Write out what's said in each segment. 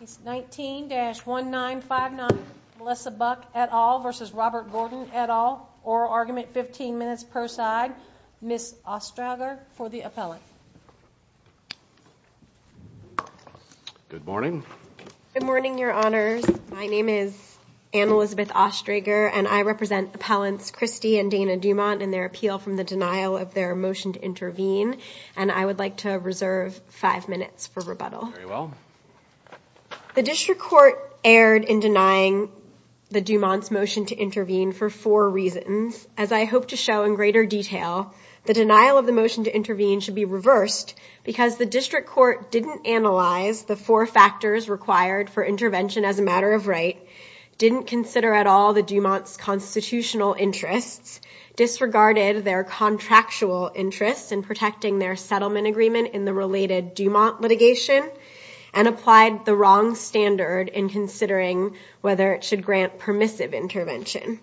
He's 19-1 9 5 9 Melissa Buck at all versus Robert Gordon at all or argument 15 minutes per side Miss Ostrager for the appellant Good morning Good morning, Your Honors. My name is Anna Elizabeth Ostrager and I represent appellants Christie and Dana Dumont and their appeal from the denial of their motion to intervene and I would like to reserve Five minutes for rebuttal The district court erred in denying The Dumont's motion to intervene for four reasons as I hope to show in greater detail The denial of the motion to intervene should be reversed Because the district court didn't analyze the four factors required for intervention as a matter of right Didn't consider at all the Dumont's constitutional interests disregarded their contractual interests in protecting their settlement agreement in the related Dumont litigation and applied the wrong standard in considering whether it should grant permissive intervention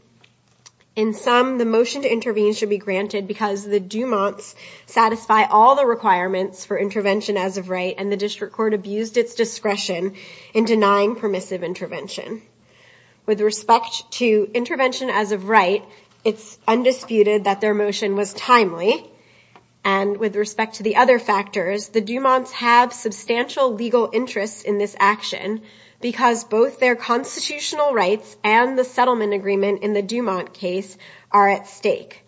in Some the motion to intervene should be granted because the Dumont's Satisfy all the requirements for intervention as of right and the district court abused its discretion in denying permissive intervention with respect to intervention as of right it's undisputed that their motion was timely and In this action because both their constitutional rights and the settlement agreement in the Dumont case are at stake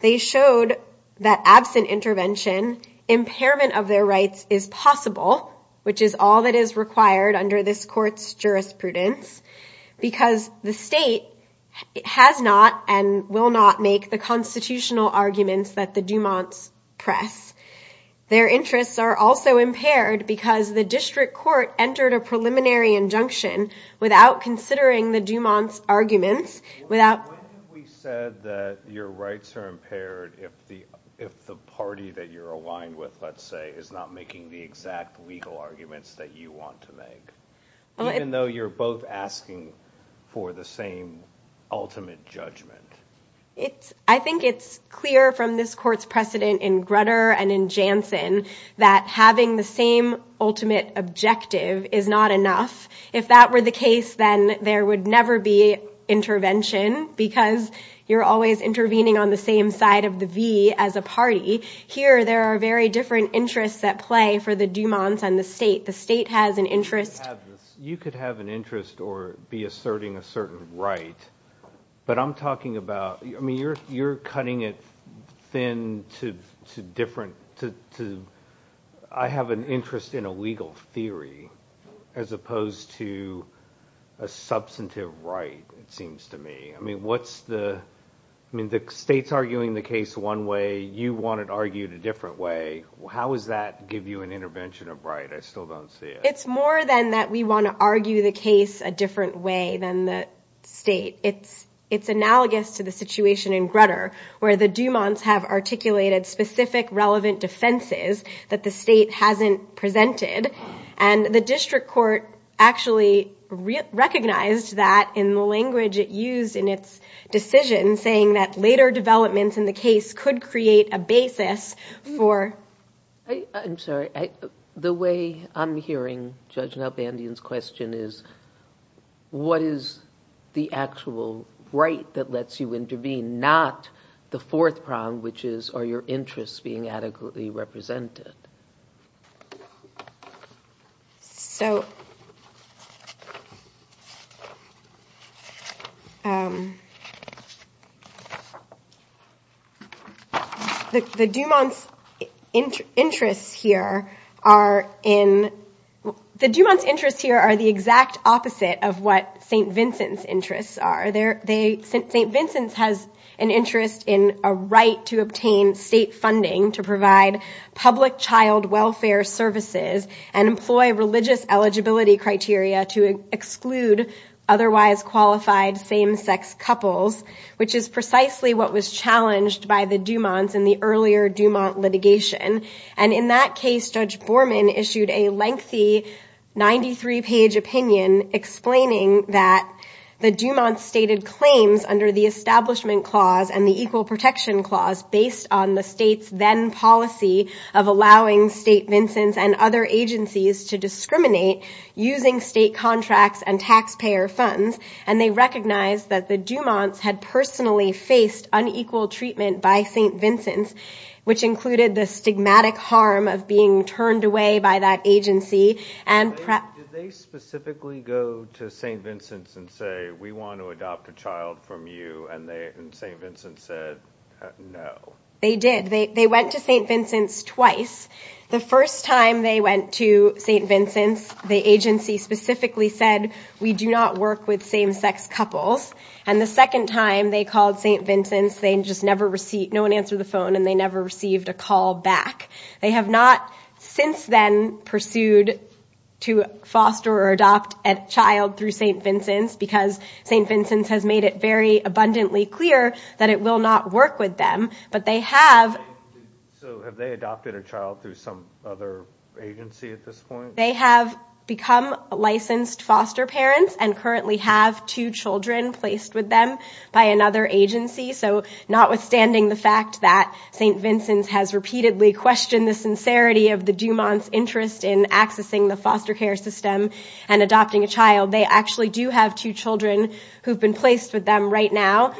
They showed that absent intervention Impairment of their rights is possible, which is all that is required under this courts jurisprudence Because the state it has not and will not make the constitutional arguments that the Dumont's press Their interests are also impaired because the district court entered a preliminary injunction without considering the Dumont's arguments without Your rights are impaired if the if the party that you're aligned with let's say is not making the exact legal arguments that you want to make Even though you're both asking for the same ultimate judgment It's I think it's clear from this court's precedent in Grutter and in Jansen that having the same Ultimate objective is not enough if that were the case then there would never be Intervention because you're always intervening on the same side of the V as a party here There are very different interests at play for the Dumont's and the state the state has an interest You could have an interest or be asserting a certain, right? But I'm talking about I mean you're you're cutting it thin to two different to I have an interest in a legal theory as opposed to a Substantive right it seems to me. I mean, what's the I mean the state's arguing the case one way You want it argued a different way? How does that give you an intervention of right? I still don't see it It's more than that. We want to argue the case a different way than the state It's it's analogous to the situation in Grutter where the Dumont's have articulated specific relevant defenses that the state hasn't presented and the district court actually recognized that in the language it used in its Decision saying that later developments in the case could create a basis for I'm sorry the way I'm hearing Judge Nalbandian's question is What is the actual right that lets you intervene not the fourth prong? Which is are your interests being adequately represented? So The Dumont's interests here are in The Dumont's interests here are the exact opposite of what st. Vincent's interests are there they st. Vincent's has an interest in a right to obtain state funding to provide public child welfare services and employ religious eligibility criteria to exclude otherwise qualified same-sex couples Which is precisely what was challenged by the Dumont's in the earlier Dumont litigation and in that case judge Borman issued a lengthy 93 page opinion Explaining that the Dumont's stated claims under the Establishment Clause and the Equal Protection Clause Based on the state's then policy of allowing st. Vincent's and other agencies to discriminate using state contracts and taxpayer funds And they recognized that the Dumont's had personally faced unequal treatment by st. Vincent's and say we want to adopt a child from you and they and st. Vincent's said no they did they went to st. Vincent's twice the first time they went to st. Vincent's the agency specifically said we do not work with same-sex couples and the second time they called st. Vincent's they just never received no one answered the phone and they never received a call back They have not since then pursued To foster or adopt a child through st. Vincent's because st. Vincent's has made it very abundantly clear that it will not work with them, but they have They have become Licensed foster parents and currently have two children placed with them by another agency So notwithstanding the fact that st. Vincent's has repeatedly questioned the sincerity of the Dumont's interest in accessing the foster care system and adopting a child They actually do have two children who've been placed with them right now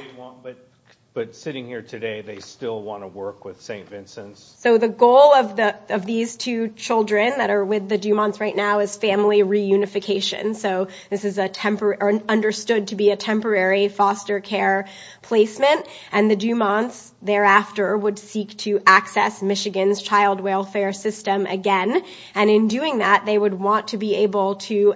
But sitting here today, they still want to work with st. Vincent's so the goal of the of these two children that are with the Dumont's right now is family reunification So this is a temporary understood to be a temporary foster care Placement and the Dumont's thereafter would seek to access Michigan's child welfare system again and in doing that they would want to be able to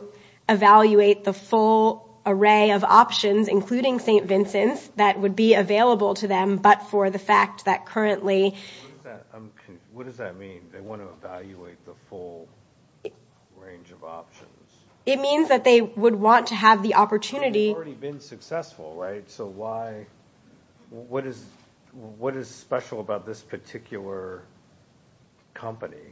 evaluate the full array of options including st. Vincent's that would be available to them, but for the fact that currently It means that they would want to have the opportunity Right, so why What is what is special about this particular? company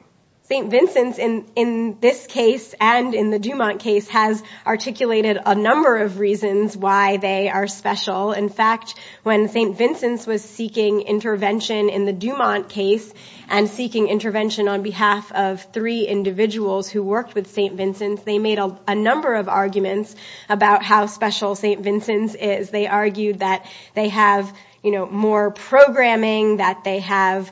st. Vincent's in in this case and in the Dumont case has Articulated a number of reasons why they are special in fact when st. Vincent's was seeking intervention in the Dumont case and seeking intervention on behalf of three St. Vincent's is they argued that they have you know more programming that they have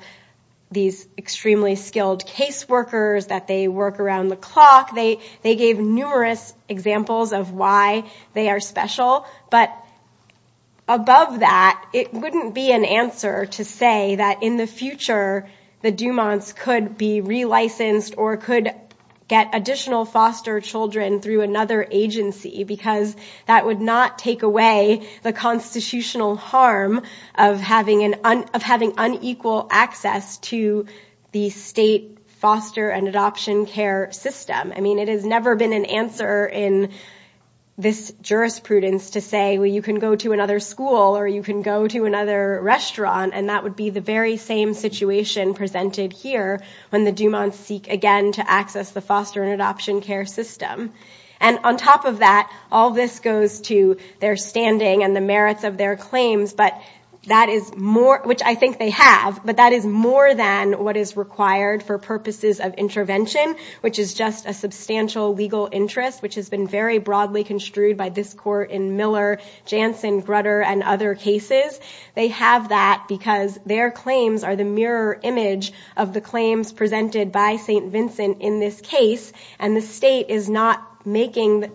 These extremely skilled caseworkers that they work around the clock. They they gave numerous examples of why they are special but Above that it wouldn't be an answer to say that in the future The Dumont's could be relicensed or could get additional foster children through another agency because that would not take away the constitutional harm of having an of having unequal access to The state foster and adoption care system. I mean it has never been an answer in This jurisprudence to say well you can go to another school or you can go to another restaurant And that would be the very same situation presented here when the Dumont's seek again to access the foster and adoption care system And on top of that all this goes to their standing and the merits of their claims But that is more which I think they have but that is more than what is required for purposes of intervention Which is just a substantial legal interest which has been very broadly construed by this court in Miller Jansen Grutter and other cases they have that because their claims are the mirror image of the claims Presented by st. Vincent in this case and the state is not making that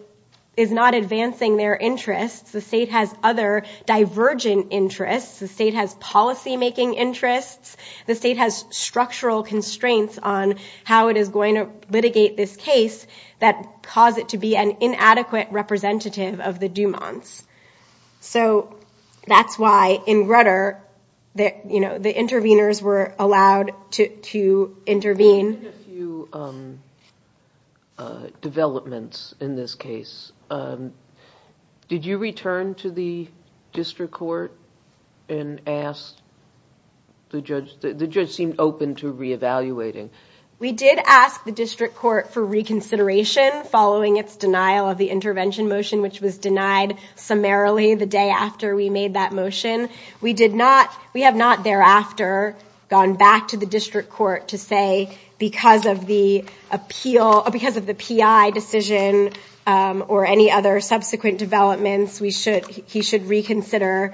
is not advancing their interests The state has other Divergent interests the state has policymaking interests the state has structural constraints on how it is going to Litigate this case that cause it to be an inadequate representative of the Dumont's so That's why in Grutter That you know the interveners were allowed to to intervene Developments in this case Did you return to the district court and asked? The judge the judge seemed open to re-evaluating We did ask the district court for reconsideration following its denial of the intervention motion which was denied Summarily the day after we made that motion we did not we have not thereafter Gone back to the district court to say because of the appeal because of the PI decision Or any other subsequent developments we should he should reconsider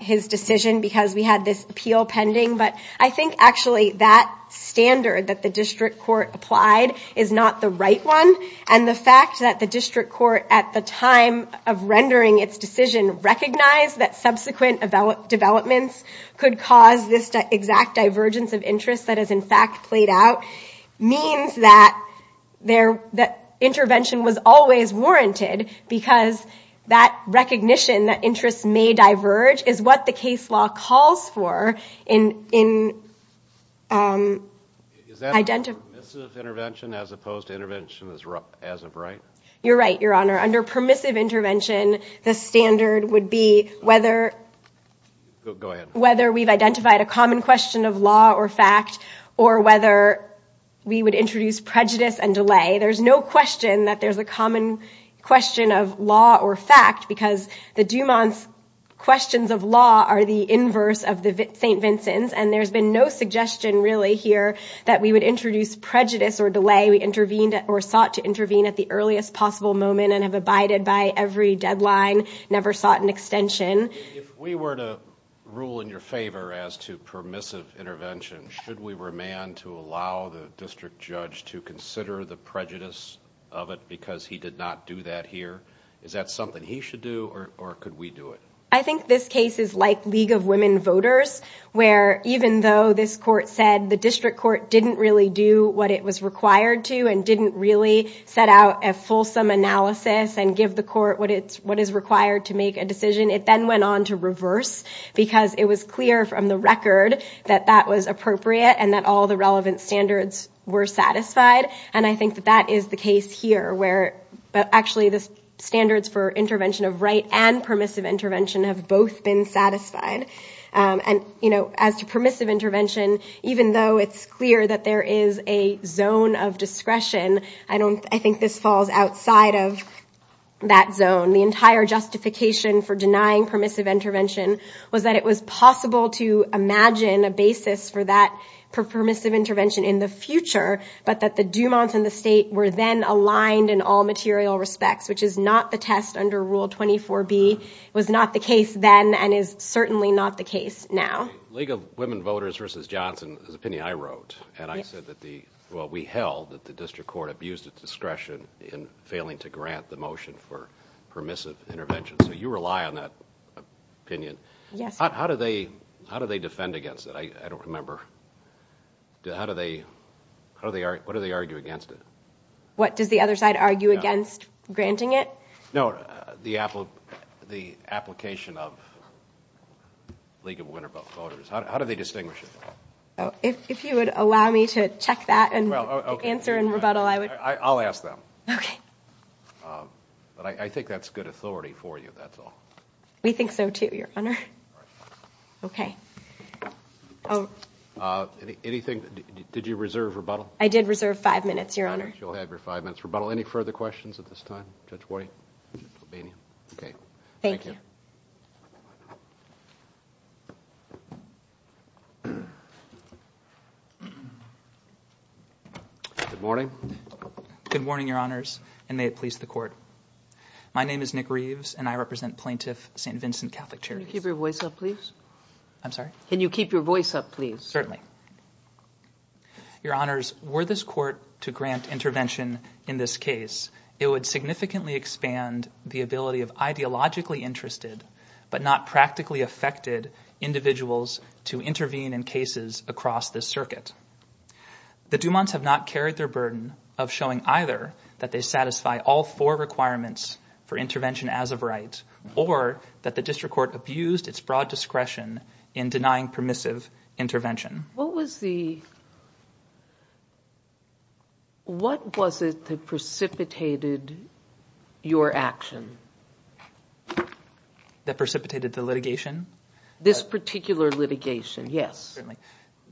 His decision because we had this appeal pending But I think actually that standard that the district court applied is not the right one and the fact that the district court at the time of rendering its decision recognized that subsequent about Developments could cause this exact divergence of interest that is in fact played out means that there that intervention was always warranted because that Recognition that interests may diverge is what the case law calls for in in Identify Intervention as opposed to intervention is rough as a bright. You're right your honor under permissive intervention the standard would be whether Go ahead whether we've identified a common question of law or fact or whether We would introduce prejudice and delay. There's no question that there's a common question of law or fact because the Dumont's That we would introduce Prejudice or delay we intervened or sought to intervene at the earliest possible moment and have abided by every deadline Never sought an extension if we were to rule in your favor as to permissive intervention Should we were a man to allow the district judge to consider the prejudice of it? Because he did not do that here. Is that something he should do or could we do it? I think this case is like League of Women Voters where even though this court said the district court didn't really do what it was required to and didn't really set out a Fulsome analysis and give the court what it's what is required to make a decision It then went on to reverse Because it was clear from the record that that was appropriate and that all the relevant standards were satisfied And I think that that is the case here where but actually this Standards for intervention of right and permissive intervention have both been satisfied And you know as to permissive intervention, even though it's clear that there is a zone of discretion I don't I think this falls outside of that zone the entire justification for denying permissive intervention was that it was possible to Imagine a basis for that for permissive intervention in the future But that the Dumont's in the state were then aligned in all material respects Which is not the test under rule 24 B It was not the case then and is certainly not the case now League of Women Voters versus Johnson There's a penny I wrote and I said that the well We held that the district court abused its discretion in failing to grant the motion for permissive intervention. So you rely on that Opinion. Yes. How do they how do they defend against it? I don't remember How do they how do they are what do they argue against it? What does the other side argue against granting it? No, the Apple the application of League of Women Voters, how do they distinguish it? Oh, if you would allow me to check that and answer in rebuttal, I would I'll ask them. Okay But I think that's good authority for you. That's all we think so to your honor Okay Oh Anything did you reserve rebuttal? I did reserve five minutes your honor You'll have your five minutes rebuttal any further questions at this time judge white Okay. Thank you Good morning Good morning, your honors and may it please the court My name is Nick Reeves and I represent plaintiff st. Vincent Catholic cherry keep your voice up, please I'm sorry. Can you keep your voice up, please? Certainly Your honors were this court to grant intervention in this case It would significantly expand the ability of ideologically interested but not practically affected Individuals to intervene in cases across this circuit the Dumont's have not carried their burden of showing either that they satisfy all four requirements for Discretion in denying permissive intervention. What was the What was it that precipitated your action That precipitated the litigation this particular litigation Yes,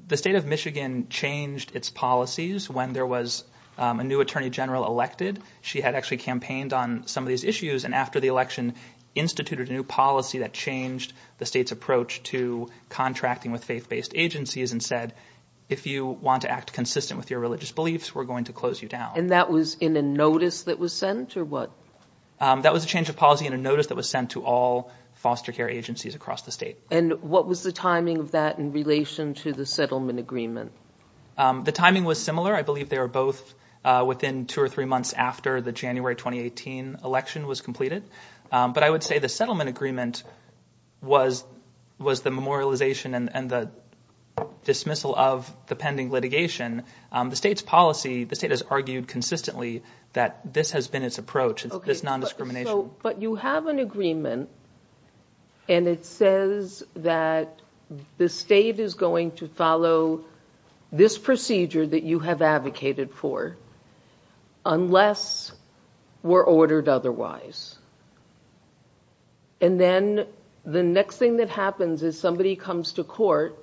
the state of Michigan changed its policies when there was a new Attorney General elected She had actually campaigned on some of these issues and after the election instituted a new policy that changed the state's approach to Contracting with faith-based agencies and said if you want to act consistent with your religious beliefs We're going to close you down and that was in a notice that was sent or what? That was a change of policy in a notice that was sent to all Foster care agencies across the state and what was the timing of that in relation to the settlement agreement? The timing was similar. I believe they are both within two or three months after the January 2018 election was completed But I would say the settlement agreement was was the memorialization and the dismissal of the pending litigation The state's policy the state has argued consistently that this has been its approach. It's not discrimination, but you have an agreement and it says that The state is going to follow this procedure that you have advocated for Unless we're ordered otherwise and Then the next thing that happens is somebody comes to court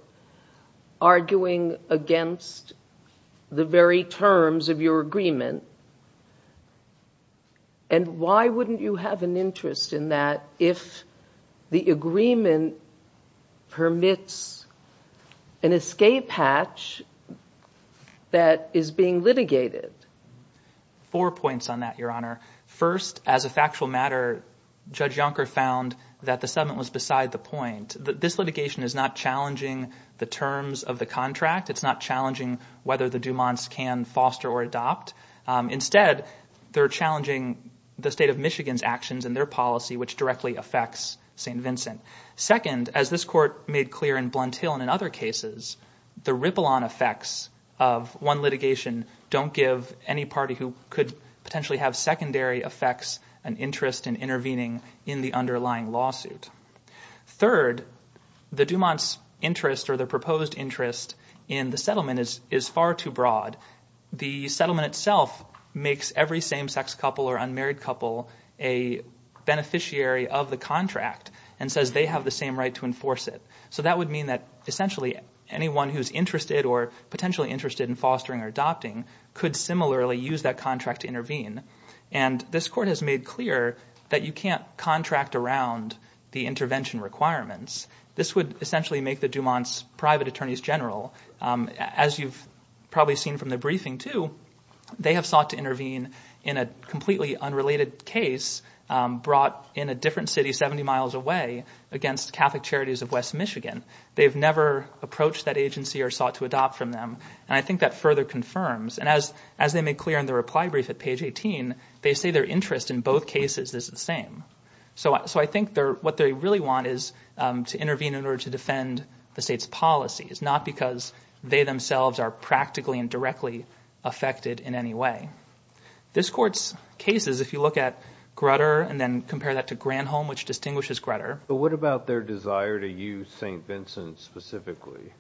arguing against the very terms of your agreement and Why wouldn't you have an interest in that if the agreement permits an escape hatch That is being litigated Four points on that your honor first as a factual matter Judge Yonker found that the settlement was beside the point that this litigation is not challenging the terms of the contract It's not challenging whether the Dumont's can foster or adopt Instead they're challenging the state of Michigan's actions and their policy which directly affects st Vincent second as this court made clear in Blunt Hill and in other cases The ripple on effects of one litigation Don't give any party who could potentially have secondary effects an interest in intervening in the underlying lawsuit third The Dumont's interest or the proposed interest in the settlement is is far too broad the settlement itself makes every same-sex couple or unmarried couple a Beneficiary of the contract and says they have the same right to enforce it so that would mean that essentially anyone who's interested or potentially interested in fostering or adopting could similarly use that contract to intervene and This court has made clear that you can't contract around the intervention requirements This would essentially make the Dumont's private attorneys general as you've probably seen from the briefing, too They have sought to intervene in a completely unrelated case Brought in a different city 70 miles away against Catholic Charities of West Michigan They've never approached that agency or sought to adopt from them And I think that further confirms and as as they make clear in the reply brief at page 18 They say their interest in both cases is the same So I think they're what they really want is to intervene in order to defend the state's policy It's not because they themselves are practically and directly affected in any way This court's cases if you look at Grutter and then compare that to Granholm which distinguishes Grutter But what about their desire to use st. Vincent specifically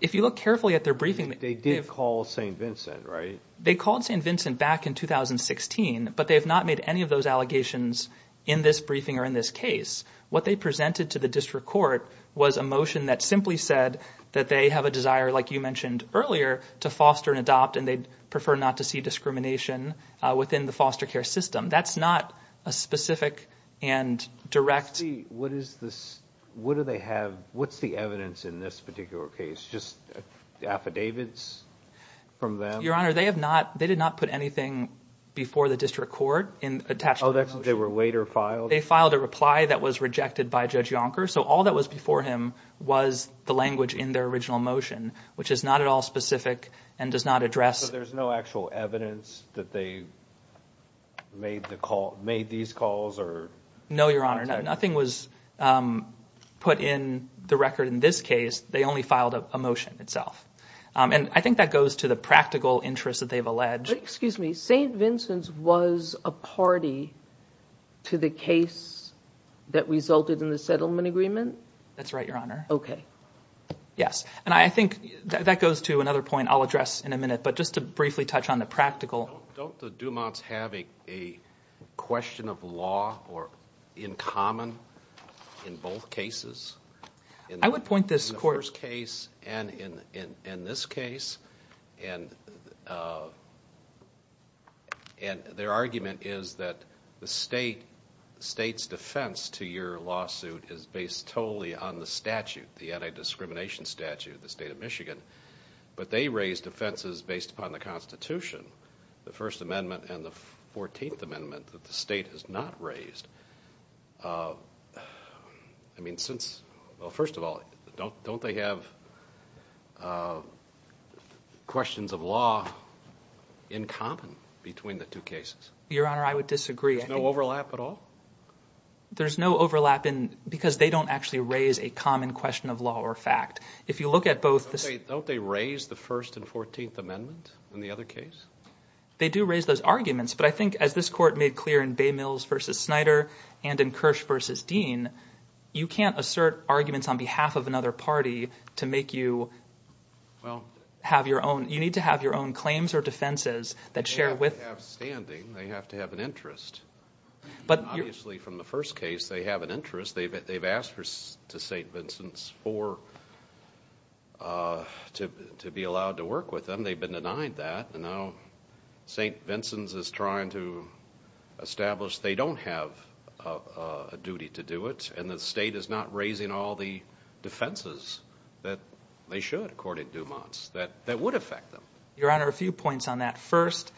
if you look carefully at their briefing? They did call st. Vincent, right? They called st. Vincent back in 2016 But they have not made any of those allegations in this briefing or in this case What they presented to the district court was a motion that simply said that they have a desire like you mentioned earlier To foster and adopt and they'd prefer not to see discrimination within the foster care system. That's not a specific and Directly, what is this? What do they have? What's the evidence in this particular case? Just affidavits From them your honor. They have not they did not put anything Before the district court in attach. Oh, that's they were later filed They filed a reply that was rejected by judge Yonker So all that was before him was the language in their original motion, which is not at all specific and does not address there's no actual evidence that they Made the call made these calls or no, your honor. Nothing was Put in the record in this case. They only filed a motion itself And I think that goes to the practical interest that they've alleged. Excuse me. St. Vincent's was a party to the case That resulted in the settlement agreement, that's right, your honor, okay Yes, and I think that goes to another point. I'll address in a minute, but just to briefly touch on the practical Question of law or in common in both cases and I would point this course case and in in in this case and And Their argument is that the state State's defense to your lawsuit is based totally on the statute the anti-discrimination statute the state of Michigan But they raised offenses based upon the Constitution the First Amendment and the 14th Amendment that the state has not raised I Mean since well, first of all, don't don't they have? Questions of law in common between the two cases your honor. I would disagree no overlap at all There's no overlap in because they don't actually raise a common question of law or fact If you look at both the state don't they raise the first and 14th Amendment in the other case? They do raise those arguments, but I think as this court made clear in Bay Mills versus Snyder and in Kirsch versus Dean You can't assert arguments on behalf of another party to make you Well have your own you need to have your own claims or defenses that share with Standing they have to have an interest But obviously from the first case they have an interest. They've asked her to st. Vincent's for To be allowed to work with them they've been denied that and now st. Vincent's is trying to establish they don't have a And the state is not raising all the defenses that they should according to months that that would affect them Your honor a few points on that first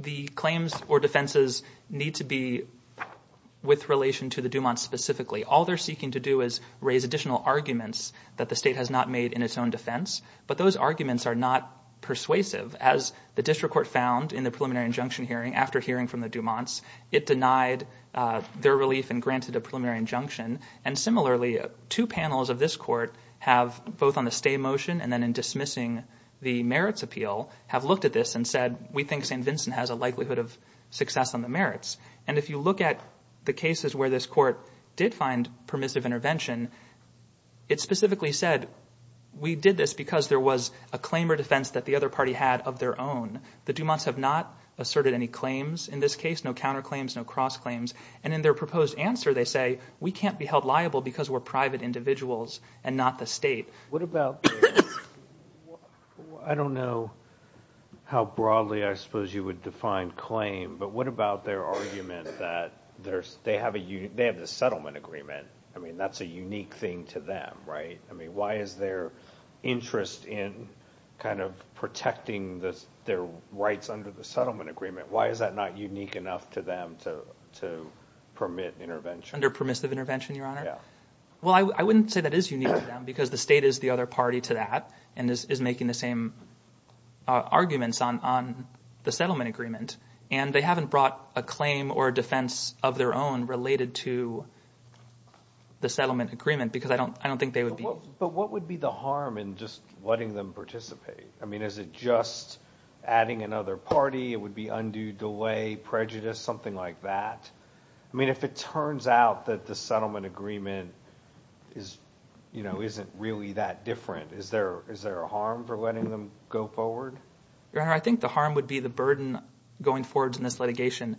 the claims or defenses need to be With relation to the Dumont specifically all they're seeking to do is raise additional arguments that the state has not made in its own defense But those arguments are not Persuasive as the district court found in the preliminary injunction hearing after hearing from the Dumont's it denied Their relief and granted a preliminary injunction and similarly two panels of this court have both on the stay motion and then in dismissing The merits appeal have looked at this and said we think st Vincent has a likelihood of success on the merits and if you look at the cases where this court did find permissive intervention It specifically said we did this because there was a claim or defense that the other party had of their own The Dumont's have not asserted any claims in this case. No counterclaims. No cross claims and in their proposed answer They say we can't be held liable because we're private individuals and not the state. What about I don't know How broadly I suppose you would define claim? But what about their argument that there's they have a you they have the settlement agreement I mean, that's a unique thing to them, right? I mean, why is their Interest in kind of protecting this their rights under the settlement agreement Why is that not unique enough to them to to permit intervention under permissive intervention your honor? Yeah, well, I wouldn't say that is unique because the state is the other party to that and this is making the same Arguments on on the settlement agreement and they haven't brought a claim or a defense of their own related to The settlement agreement because I don't I don't think they would be but what would be the harm in just letting them participate I mean, is it just Adding another party. It would be undue delay prejudice something like that I mean if it turns out that the settlement agreement is You know isn't really that different. Is there is there a harm for letting them go forward your honor? I think the harm would be the burden going forwards in this litigation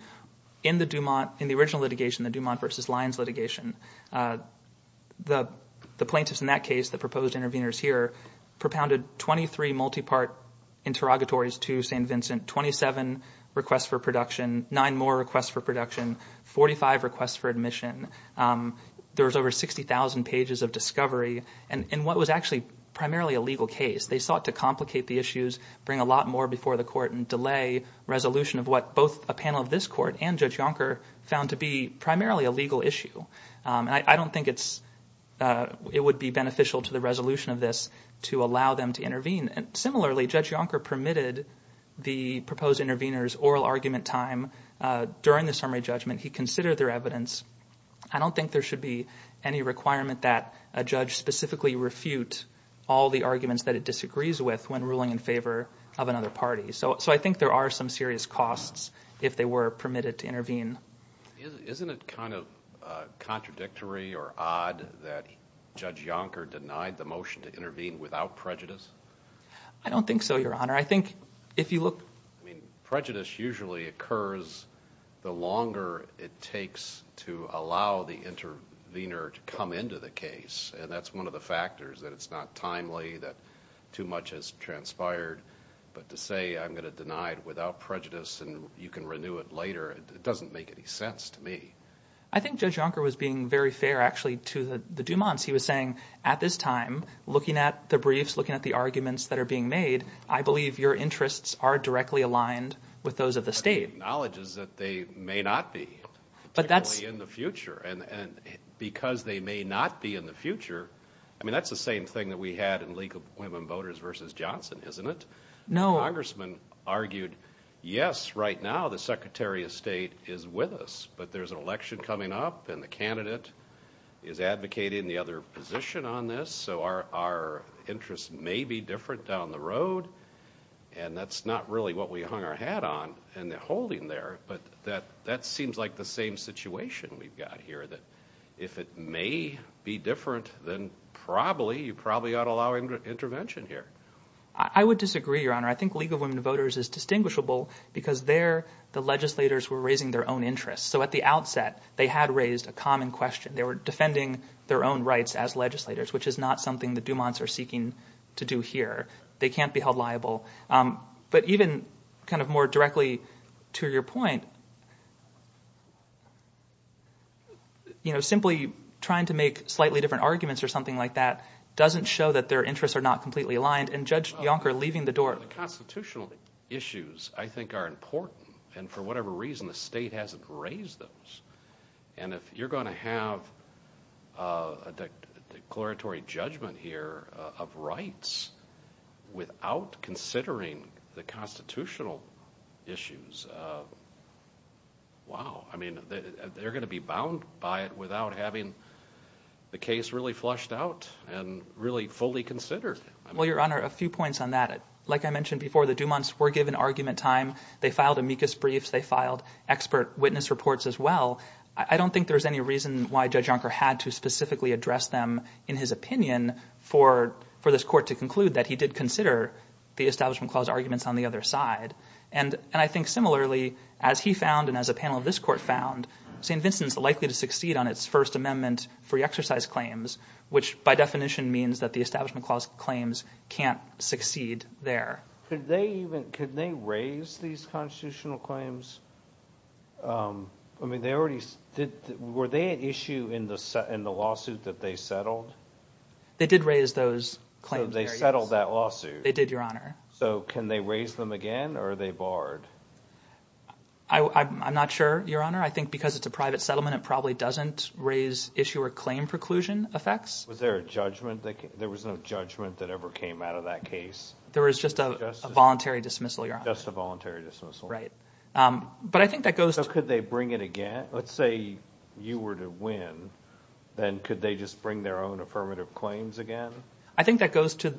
In the Dumont in the original litigation the Dumont versus Lyons litigation The the plaintiffs in that case that proposed interveners here propounded 23 multi-part interrogatories to st. Vincent 27 requests for production 9 more requests for production 45 requests for admission There was over 60,000 pages of discovery and in what was actually primarily a legal case They sought to complicate the issues bring a lot more before the court and delay Resolution of what both a panel of this court and judge Yonker found to be primarily a legal issue and I don't think it's It would be beneficial to the resolution of this to allow them to intervene and similarly judge Yonker permitted The proposed interveners oral argument time During the summary judgment. He considered their evidence I don't think there should be any requirement that a judge specifically refute all the arguments that it disagrees with when ruling in favor Of another party. So so I think there are some serious costs if they were permitted to intervene Isn't it kind of? Contradictory or odd that judge Yonker denied the motion to intervene without prejudice. I Don't think so your honor. I think if you look I mean prejudice usually occurs The longer it takes to allow the intervener to come into the case And that's one of the factors that it's not timely that too much has transpired But to say I'm gonna deny it without prejudice and you can renew it later. It doesn't make any sense to me I think judge Yonker was being very fair actually to the the Dumont's He was saying at this time looking at the briefs looking at the arguments that are being made I believe your interests are directly aligned with those of the state knowledges that they may not be But that's in the future and and because they may not be in the future I mean, that's the same thing that we had in League of Women Voters versus Johnson, isn't it? No congressman argued. Yes right now The Secretary of State is with us, but there's an election coming up and the candidate is advocating the other position on this so our Interests may be different down the road and that's not really what we hung our hat on and they're holding there But that that seems like the same situation We've got here that if it may be different then probably you probably ought to allow him to intervention here I would disagree your honor I think League of Women Voters is distinguishable because there the legislators were raising their own interests So at the outset they had raised a common question They were defending their own rights as legislators, which is not something the Dumont's are seeking to do here. They can't be held liable But even kind of more directly to your point You know simply trying to make slightly different arguments or something like that Doesn't show that their interests are not completely aligned and judge Yonker leaving the door the constitutional issues I think are important and for whatever reason the state hasn't raised those and if you're going to have a declaratory judgment here of rights without considering the constitutional issues Wow, I mean they're gonna be bound by it without having The case really flushed out and really fully considered Well, your honor a few points on that it like I mentioned before the Dumont's were given argument time They filed amicus briefs. They filed expert witness reports as well I don't think there's any reason why judge Yonker had to specifically address them in his opinion for for this court to conclude that he did consider the Establishment Clause arguments on the other side and And I think similarly as he found and as a panel of this court found St. Vincent's likely to succeed on its First Amendment free exercise claims Which by definition means that the Establishment Clause claims can't succeed there Could they even could they raise these constitutional claims? I mean they already did were they an issue in the set in the lawsuit that they settled They did raise those claims. They settled that lawsuit. They did your honor. So can they raise them again, or are they barred? I It's a private settlement. It probably doesn't raise issue or claim preclusion effects Was there a judgment that there was no judgment that ever came out of that case? There was just a voluntary dismissal. You're just a voluntary dismissal, right? But I think that goes so could they bring it again? Let's say you were to win Then could they just bring their own affirmative claims again? I think that goes to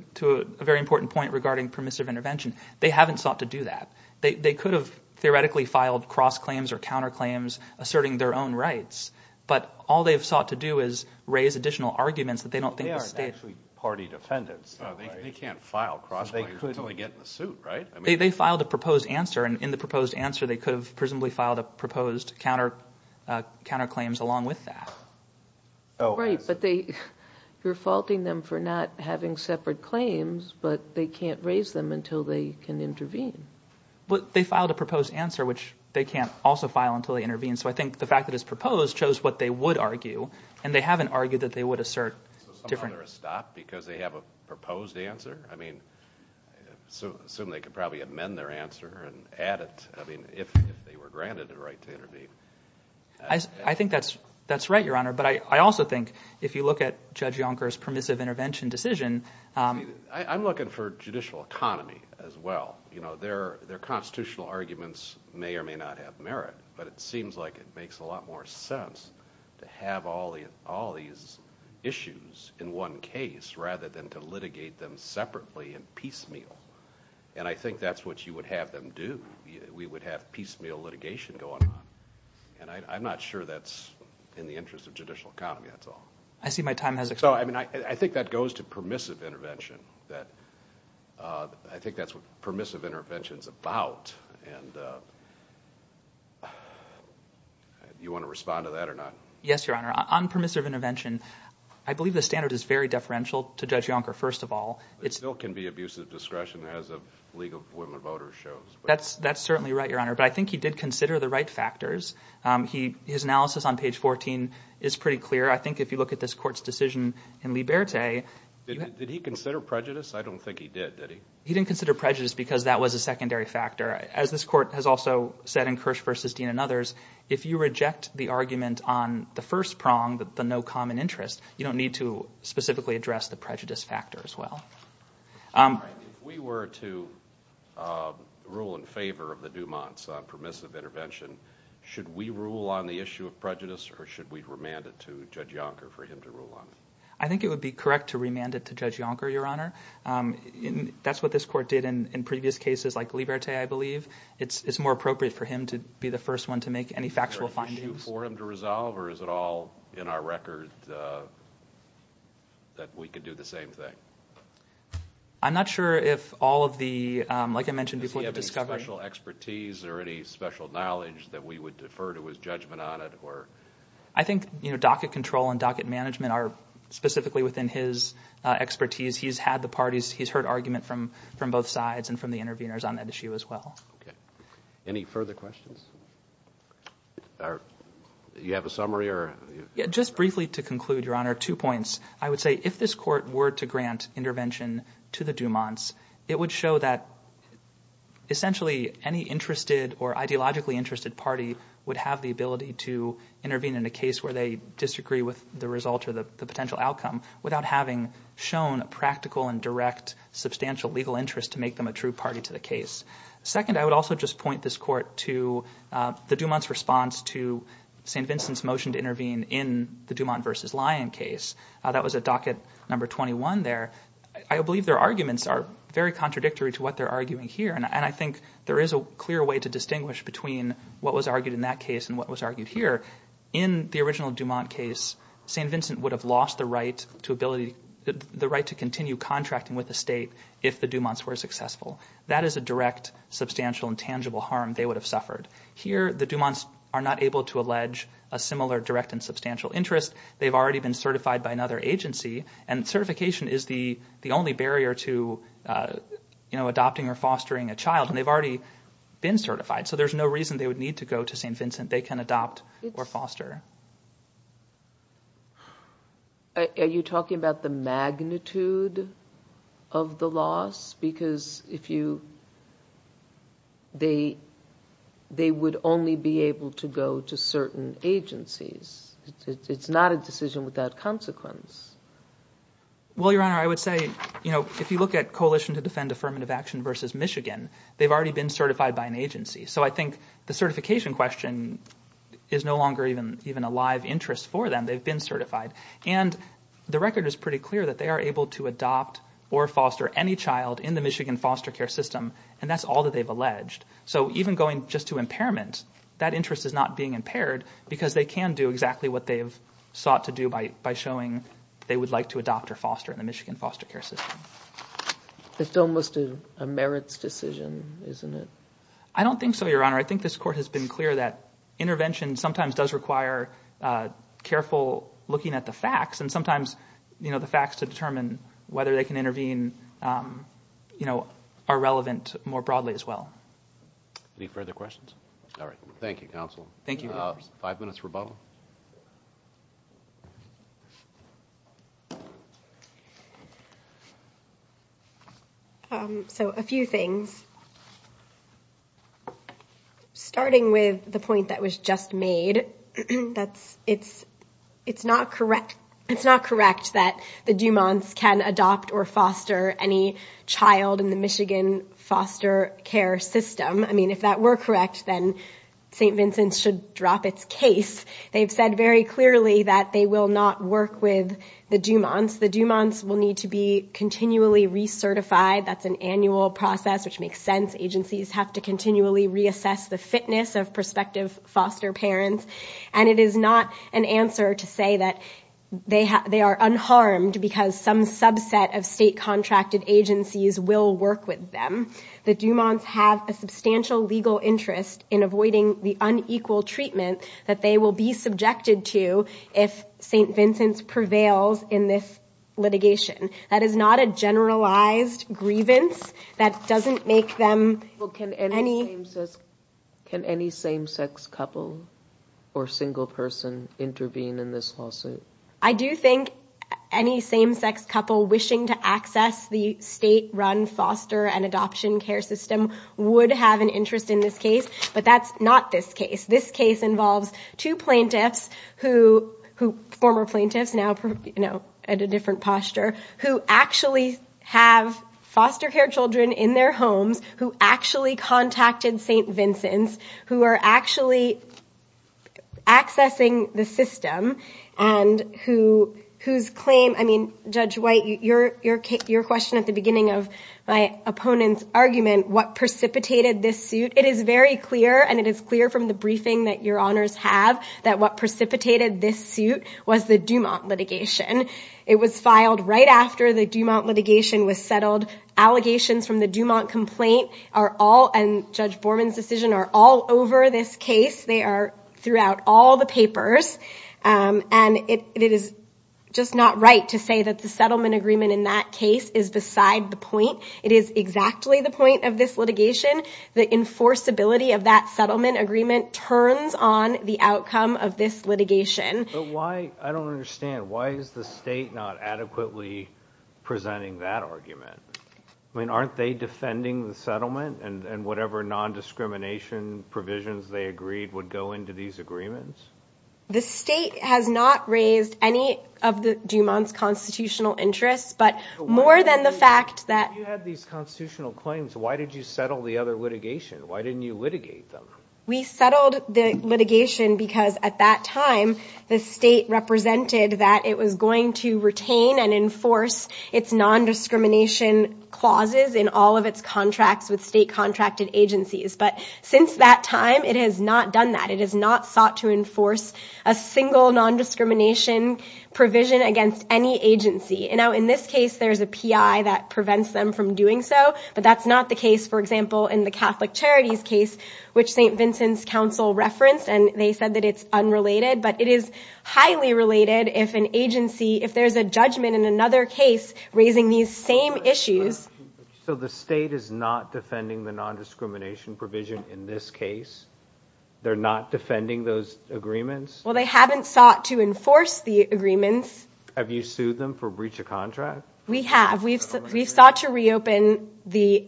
a very important point regarding permissive intervention They haven't sought to do that They could have theoretically filed cross claims or counterclaims asserting their own rights But all they've sought to do is raise additional arguments that they don't think they are actually party defendants They can't file cross. They could only get in the suit, right? I mean they filed a proposed answer and in the proposed answer they could have presumably filed a proposed counter counter claims along with that Right, but they you're faulting them for not having separate claims, but they can't raise them until they can intervene But they filed a proposed answer, which they can't also file until they intervene So I think the fact that it's proposed chose what they would argue and they haven't argued that they would assert Different or a stop because they have a proposed answer. I mean So assume they could probably amend their answer and add it. I mean if they were granted the right to intervene I Think that's that's right your honor. But I also think if you look at judge Yonkers permissive intervention decision I'm looking for judicial economy as well You know their their constitutional arguments may or may not have merit But it seems like it makes a lot more sense to have all the all these Issues in one case rather than to litigate them separately and piecemeal And I think that's what you would have them do we would have piecemeal litigation going on And I'm not sure that's in the interest of judicial economy. That's all I see my time has it I mean, I think that goes to permissive intervention that I think that's what permissive interventions about and You want to respond to that or not? Yes, your honor on permissive intervention I believe the standard is very deferential to judge Yonker First of all, it's still can be abusive discretion as a League of Women Voters shows That's that's certainly right your honor, but I think he did consider the right factors He his analysis on page 14 is pretty clear I think if you look at this court's decision in Liberté, did he consider prejudice? I don't think he did Did he he didn't consider prejudice because that was a secondary factor as this court has also Said in Kirsch versus Dean and others if you reject the argument on the first prong that the no common interest You don't need to specifically address the prejudice factor as well we were to rule in favor of the Dumont's permissive intervention Should we rule on the issue of prejudice or should we remand it to judge Yonker for him to rule on it? I think it would be correct to remand it to judge Yonker your honor That's what this court did in in previous cases like Liberté I believe it's more appropriate for him to be the first one to make any factual findings for him to resolve or is it all in our record That we could do the same thing I'm not sure if all of the like I mentioned before the discovery special expertise or any special knowledge That we would defer to his judgment on it, or I think you know docket control and docket management are specifically within his Expertise he's had the parties. He's heard argument from from both sides and from the interveners on that issue as well any further questions Are you have a summary or just briefly to conclude your honor two points? I would say if this court were to grant intervention to the Dumont's it would show that Essentially any interested or ideologically interested party would have the ability to Intervene in a case where they disagree with the result or the potential outcome without having shown a practical and direct Substantial legal interest to make them a true party to the case second. I would also just point this court to The Dumont's response to st. Vincent's motion to intervene in the Dumont versus Lyon case that was a docket number 21 there I believe their arguments are very contradictory to what they're arguing here And I think there is a clear way to distinguish between what was argued in that case and what was argued here in The original Dumont case st Vincent would have lost the right to ability the right to continue contracting with the state if the Dumont's were successful That is a direct substantial and tangible harm They would have suffered here the Dumont's are not able to allege a similar direct and substantial interest they've already been certified by another agency and certification is the the only barrier to You know adopting or fostering a child and they've already been certified So there's no reason they would need to go to st. Vincent. They can adopt or foster Are you talking about the magnitude of the loss because if you They They would only be able to go to certain agencies It's not a decision without consequence Well, your honor I would say, you know, if you look at coalition to defend affirmative action versus Michigan They've already been certified by an agency. So I think the certification question is no longer even even a live interest for them they've been certified and The record is pretty clear that they are able to adopt or foster any child in the Michigan foster care system And that's all that they've alleged So even going just to impairment that interest is not being impaired because they can do exactly what they've Sought to do by by showing they would like to adopt or foster in the Michigan foster care system It's almost a merits decision, isn't it? I don't think so. Your honor. I think this court has been clear that intervention sometimes does require Careful looking at the facts and sometimes, you know the facts to determine whether they can intervene You know are relevant more broadly as well Any further questions? All right. Thank you counsel. Thank you five minutes rebuttal So a few things Starting with the point that was just made That's it's it's not correct It's not correct that the Dumont's can adopt or foster any child in the Michigan foster care system I mean if that were correct, then st. Vincent's should drop its case They've said very clearly that they will not work with the Dumont's the Dumont's will need to be continually recertified That's an annual process which makes sense agencies have to continually reassess the fitness of prospective foster parents And it is not an answer to say that They have they are unharmed because some subset of state contracted agencies will work with them The Dumont's have a substantial legal interest in avoiding the unequal treatment that they will be subjected to if St. Vincent's prevails in this litigation that is not a generalized Grievance that doesn't make them look at any Can any same-sex couple or single person intervene in this lawsuit? I do think any same-sex couple wishing to access the state run foster and adoption care system Would have an interest in this case, but that's not this case This case involves two plaintiffs who who former plaintiffs now, you know at a different posture who actually have Foster care children in their homes who actually contacted st. Vincent's who are actually Accessing the system and Whose claim I mean judge white your your case your question at the beginning of my opponent's argument What precipitated this suit it is very clear and it is clear from the briefing that your honors have that what? Precipitated this suit was the Dumont litigation. It was filed right after the Dumont litigation was settled Allegations from the Dumont complaint are all and judge Borman's decision are all over this case They are throughout all the papers And it is just not right to say that the settlement agreement in that case is beside the point It is exactly the point of this litigation the enforceability of that settlement agreement Turns on the outcome of this litigation why I don't understand. Why is the state not adequately? Presenting that argument. I mean aren't they defending the settlement and and whatever non-discrimination Provisions they agreed would go into these agreements The state has not raised any of the Dumont's constitutional interests But more than the fact that you have these constitutional claims, why did you settle the other litigation? Why didn't you litigate them? We settled the litigation because at that time the state Represented that it was going to retain and enforce its non-discrimination Clauses in all of its contracts with state contracted agencies, but since that time it has not done that It is not sought to enforce a single non-discrimination Provision against any agency and now in this case, there's a PI that prevents them from doing so but that's not the case For example in the Catholic Charities case, which st. Vincent's Council referenced and they said that it's unrelated But it is highly related if an agency if there's a judgment in another case raising these same issues So the state is not defending the non-discrimination provision in this case They're not defending those agreements. Well, they haven't sought to enforce the agreements Have you sued them for breach of contract? We have we've we've sought to reopen the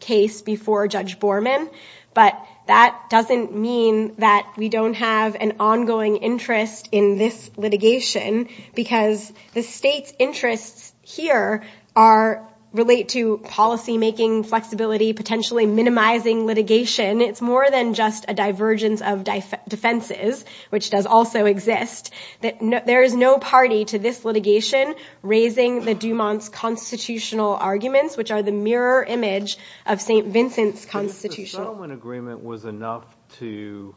Case before judge Borman, but that doesn't mean that we don't have an ongoing interest in this litigation because the state's interests here are Relate to policy making flexibility potentially minimizing litigation It's more than just a divergence of defense defenses, which does also exist that no there is no party to this litigation raising the Dumont's constitutional arguments which are the mirror image of st. Vincent's constitutional agreement was enough to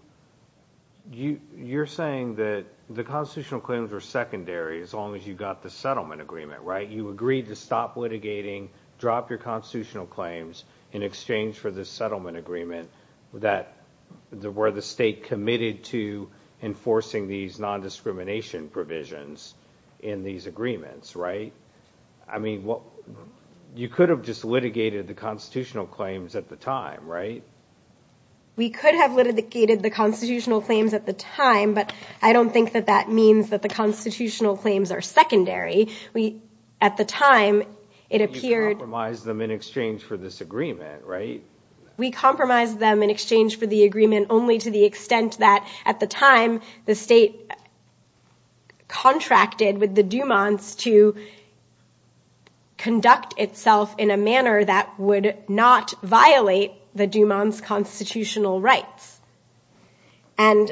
You you're saying that the constitutional claims are secondary as long as you got the settlement agreement, right? You agreed to stop litigating drop your constitutional claims in exchange for this settlement agreement that Where the state committed to enforcing these non-discrimination provisions in these agreements, right? I mean what you could have just litigated the constitutional claims at the time, right? We could have litigated the constitutional claims at the time I don't think that that means that the constitutional claims are secondary. We at the time it appeared I'm wise them in exchange for this agreement, right? We compromised them in exchange for the agreement only to the extent that at the time the state Contracted with the Dumont's to Conduct itself in a manner that would not violate the Dumont's constitutional rights and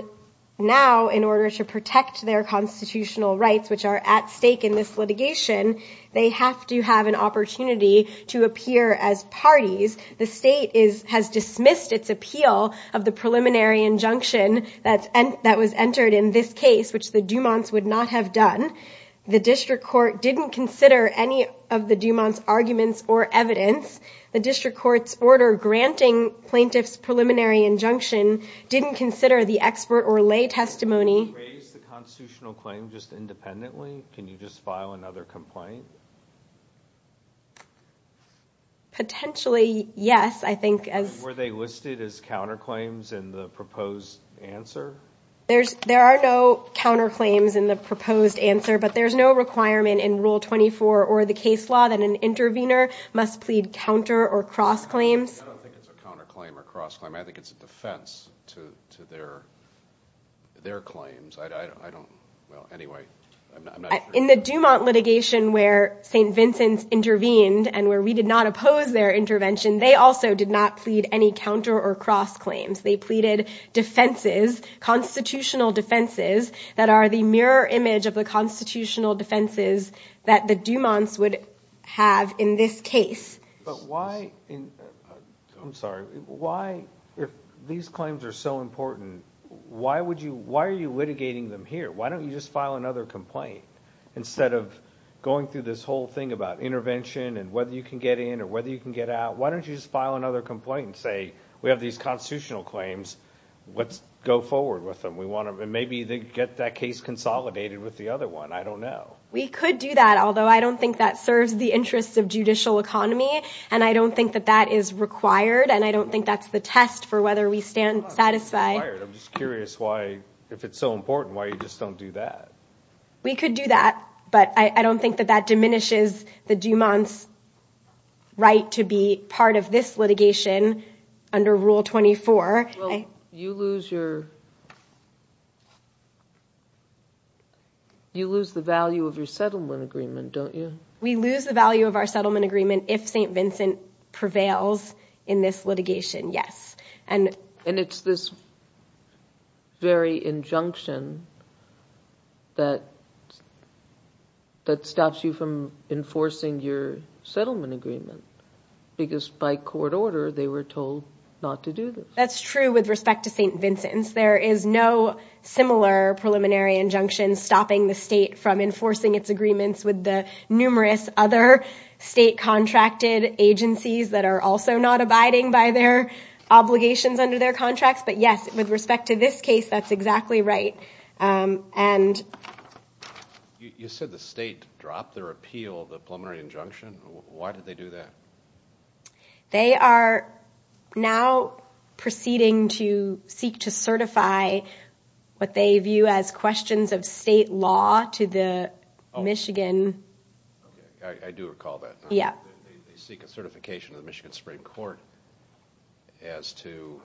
Now in order to protect their constitutional rights which are at stake in this litigation They have to have an opportunity to appear as parties The state is has dismissed its appeal of the preliminary injunction That's and that was entered in this case, which the Dumont's would not have done The district court didn't consider any of the Dumont's arguments or evidence the district courts order granting Plaintiff's preliminary injunction didn't consider the expert or lay testimony Potentially yes, I think as were they listed as counterclaims in the proposed answer There's there are no counterclaims in the proposed answer But there's no requirement in rule 24 or the case law that an intervener must plead counter or cross claims I think it's a defense to their Their claims. I don't know anyway In the Dumont litigation where st. Vincent's intervened and where we did not oppose their intervention They also did not plead any counter or cross claims. They pleaded defenses constitutional defenses that are the mirror image of the constitutional defenses that the Dumont's would have in this case, but why I'm sorry. Why if these claims are so important, why would you why are you litigating them here? Why don't you just file another complaint? Instead of going through this whole thing about intervention and whether you can get in or whether you can get out Why don't you just file another complaint and say we have these constitutional claims? Let's go forward with them. We want to maybe they get that case consolidated with the other one I don't know we could do that I don't think that serves the interests of judicial economy and I don't think that that is required and I don't think that's the test For whether we stand satisfied. I'm just curious why if it's so important why you just don't do that We could do that, but I don't think that that diminishes the Dumont's Right to be part of this litigation under rule 24. I you lose your You Lose the value of your settlement agreement, don't you we lose the value of our settlement agreement if st Vincent prevails in this litigation. Yes, and and it's this very injunction that That stops you from enforcing your settlement agreement Because by court order they were told not to do this. That's true with respect to st. Vincent's. There is no Similar preliminary injunction stopping the state from enforcing its agreements with the numerous other state contracted agencies that are also not abiding by their Obligations under their contracts. But yes with respect to this case. That's exactly right and You said the state dropped their appeal the preliminary injunction, why did they do that? They are now proceeding to seek to certify What they view as questions of state law to the Michigan Yeah, they seek a certification of the Michigan Supreme Court as to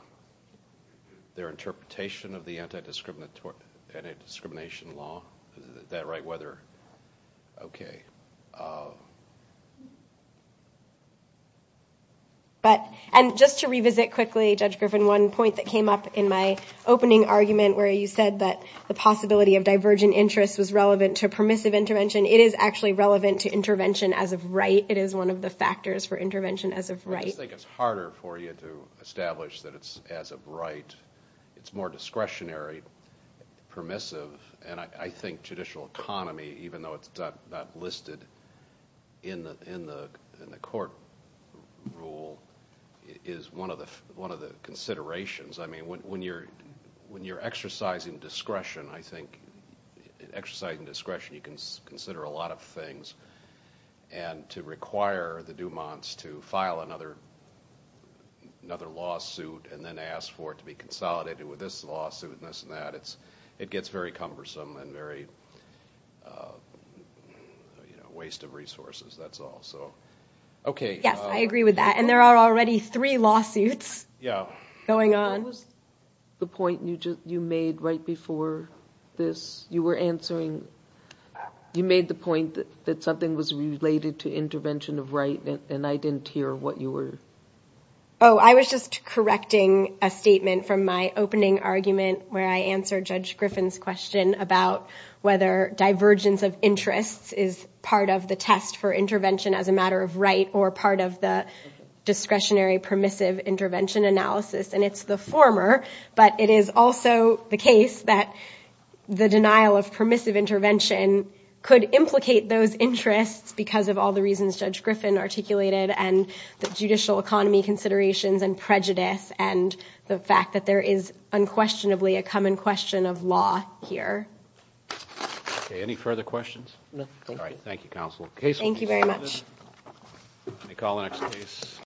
Their interpretation of the anti-discriminatory and a discrimination law that right whether okay But And just to revisit quickly judge Griffin one point that came up in my Opening argument where you said that the possibility of divergent interest was relevant to permissive intervention It is actually relevant to intervention as of right. It is one of the factors for intervention as of right I think it's harder for you to establish that it's as of right. It's more discretionary Permissive and I think judicial economy even though it's not listed in the in the in the court Rule is one of the one of the considerations. I mean when you're when you're exercising discretion, I think exercising discretion you can consider a lot of things and to require the Dumont's to file another Another lawsuit and then ask for it to be consolidated with this lawsuit and this and that it's it gets very cumbersome and very Waste of resources, that's all so Okay. Yes. I agree with that and there are already three lawsuits. Yeah going on The point you just you made right before this you were answering You made the point that something was related to intervention of right and I didn't hear what you were oh I was just correcting a statement from my opening argument where I answered judge Griffin's question about whether divergence of interests is part of the test for intervention as a matter of right or part of the discretionary permissive intervention analysis and it's the former but it is also the case that The denial of permissive intervention could implicate those interests because of all the reasons judge Griffin articulated and the judicial economy considerations and prejudice and the fact that there is unquestionably a common question of law here Any further questions? Thank you very much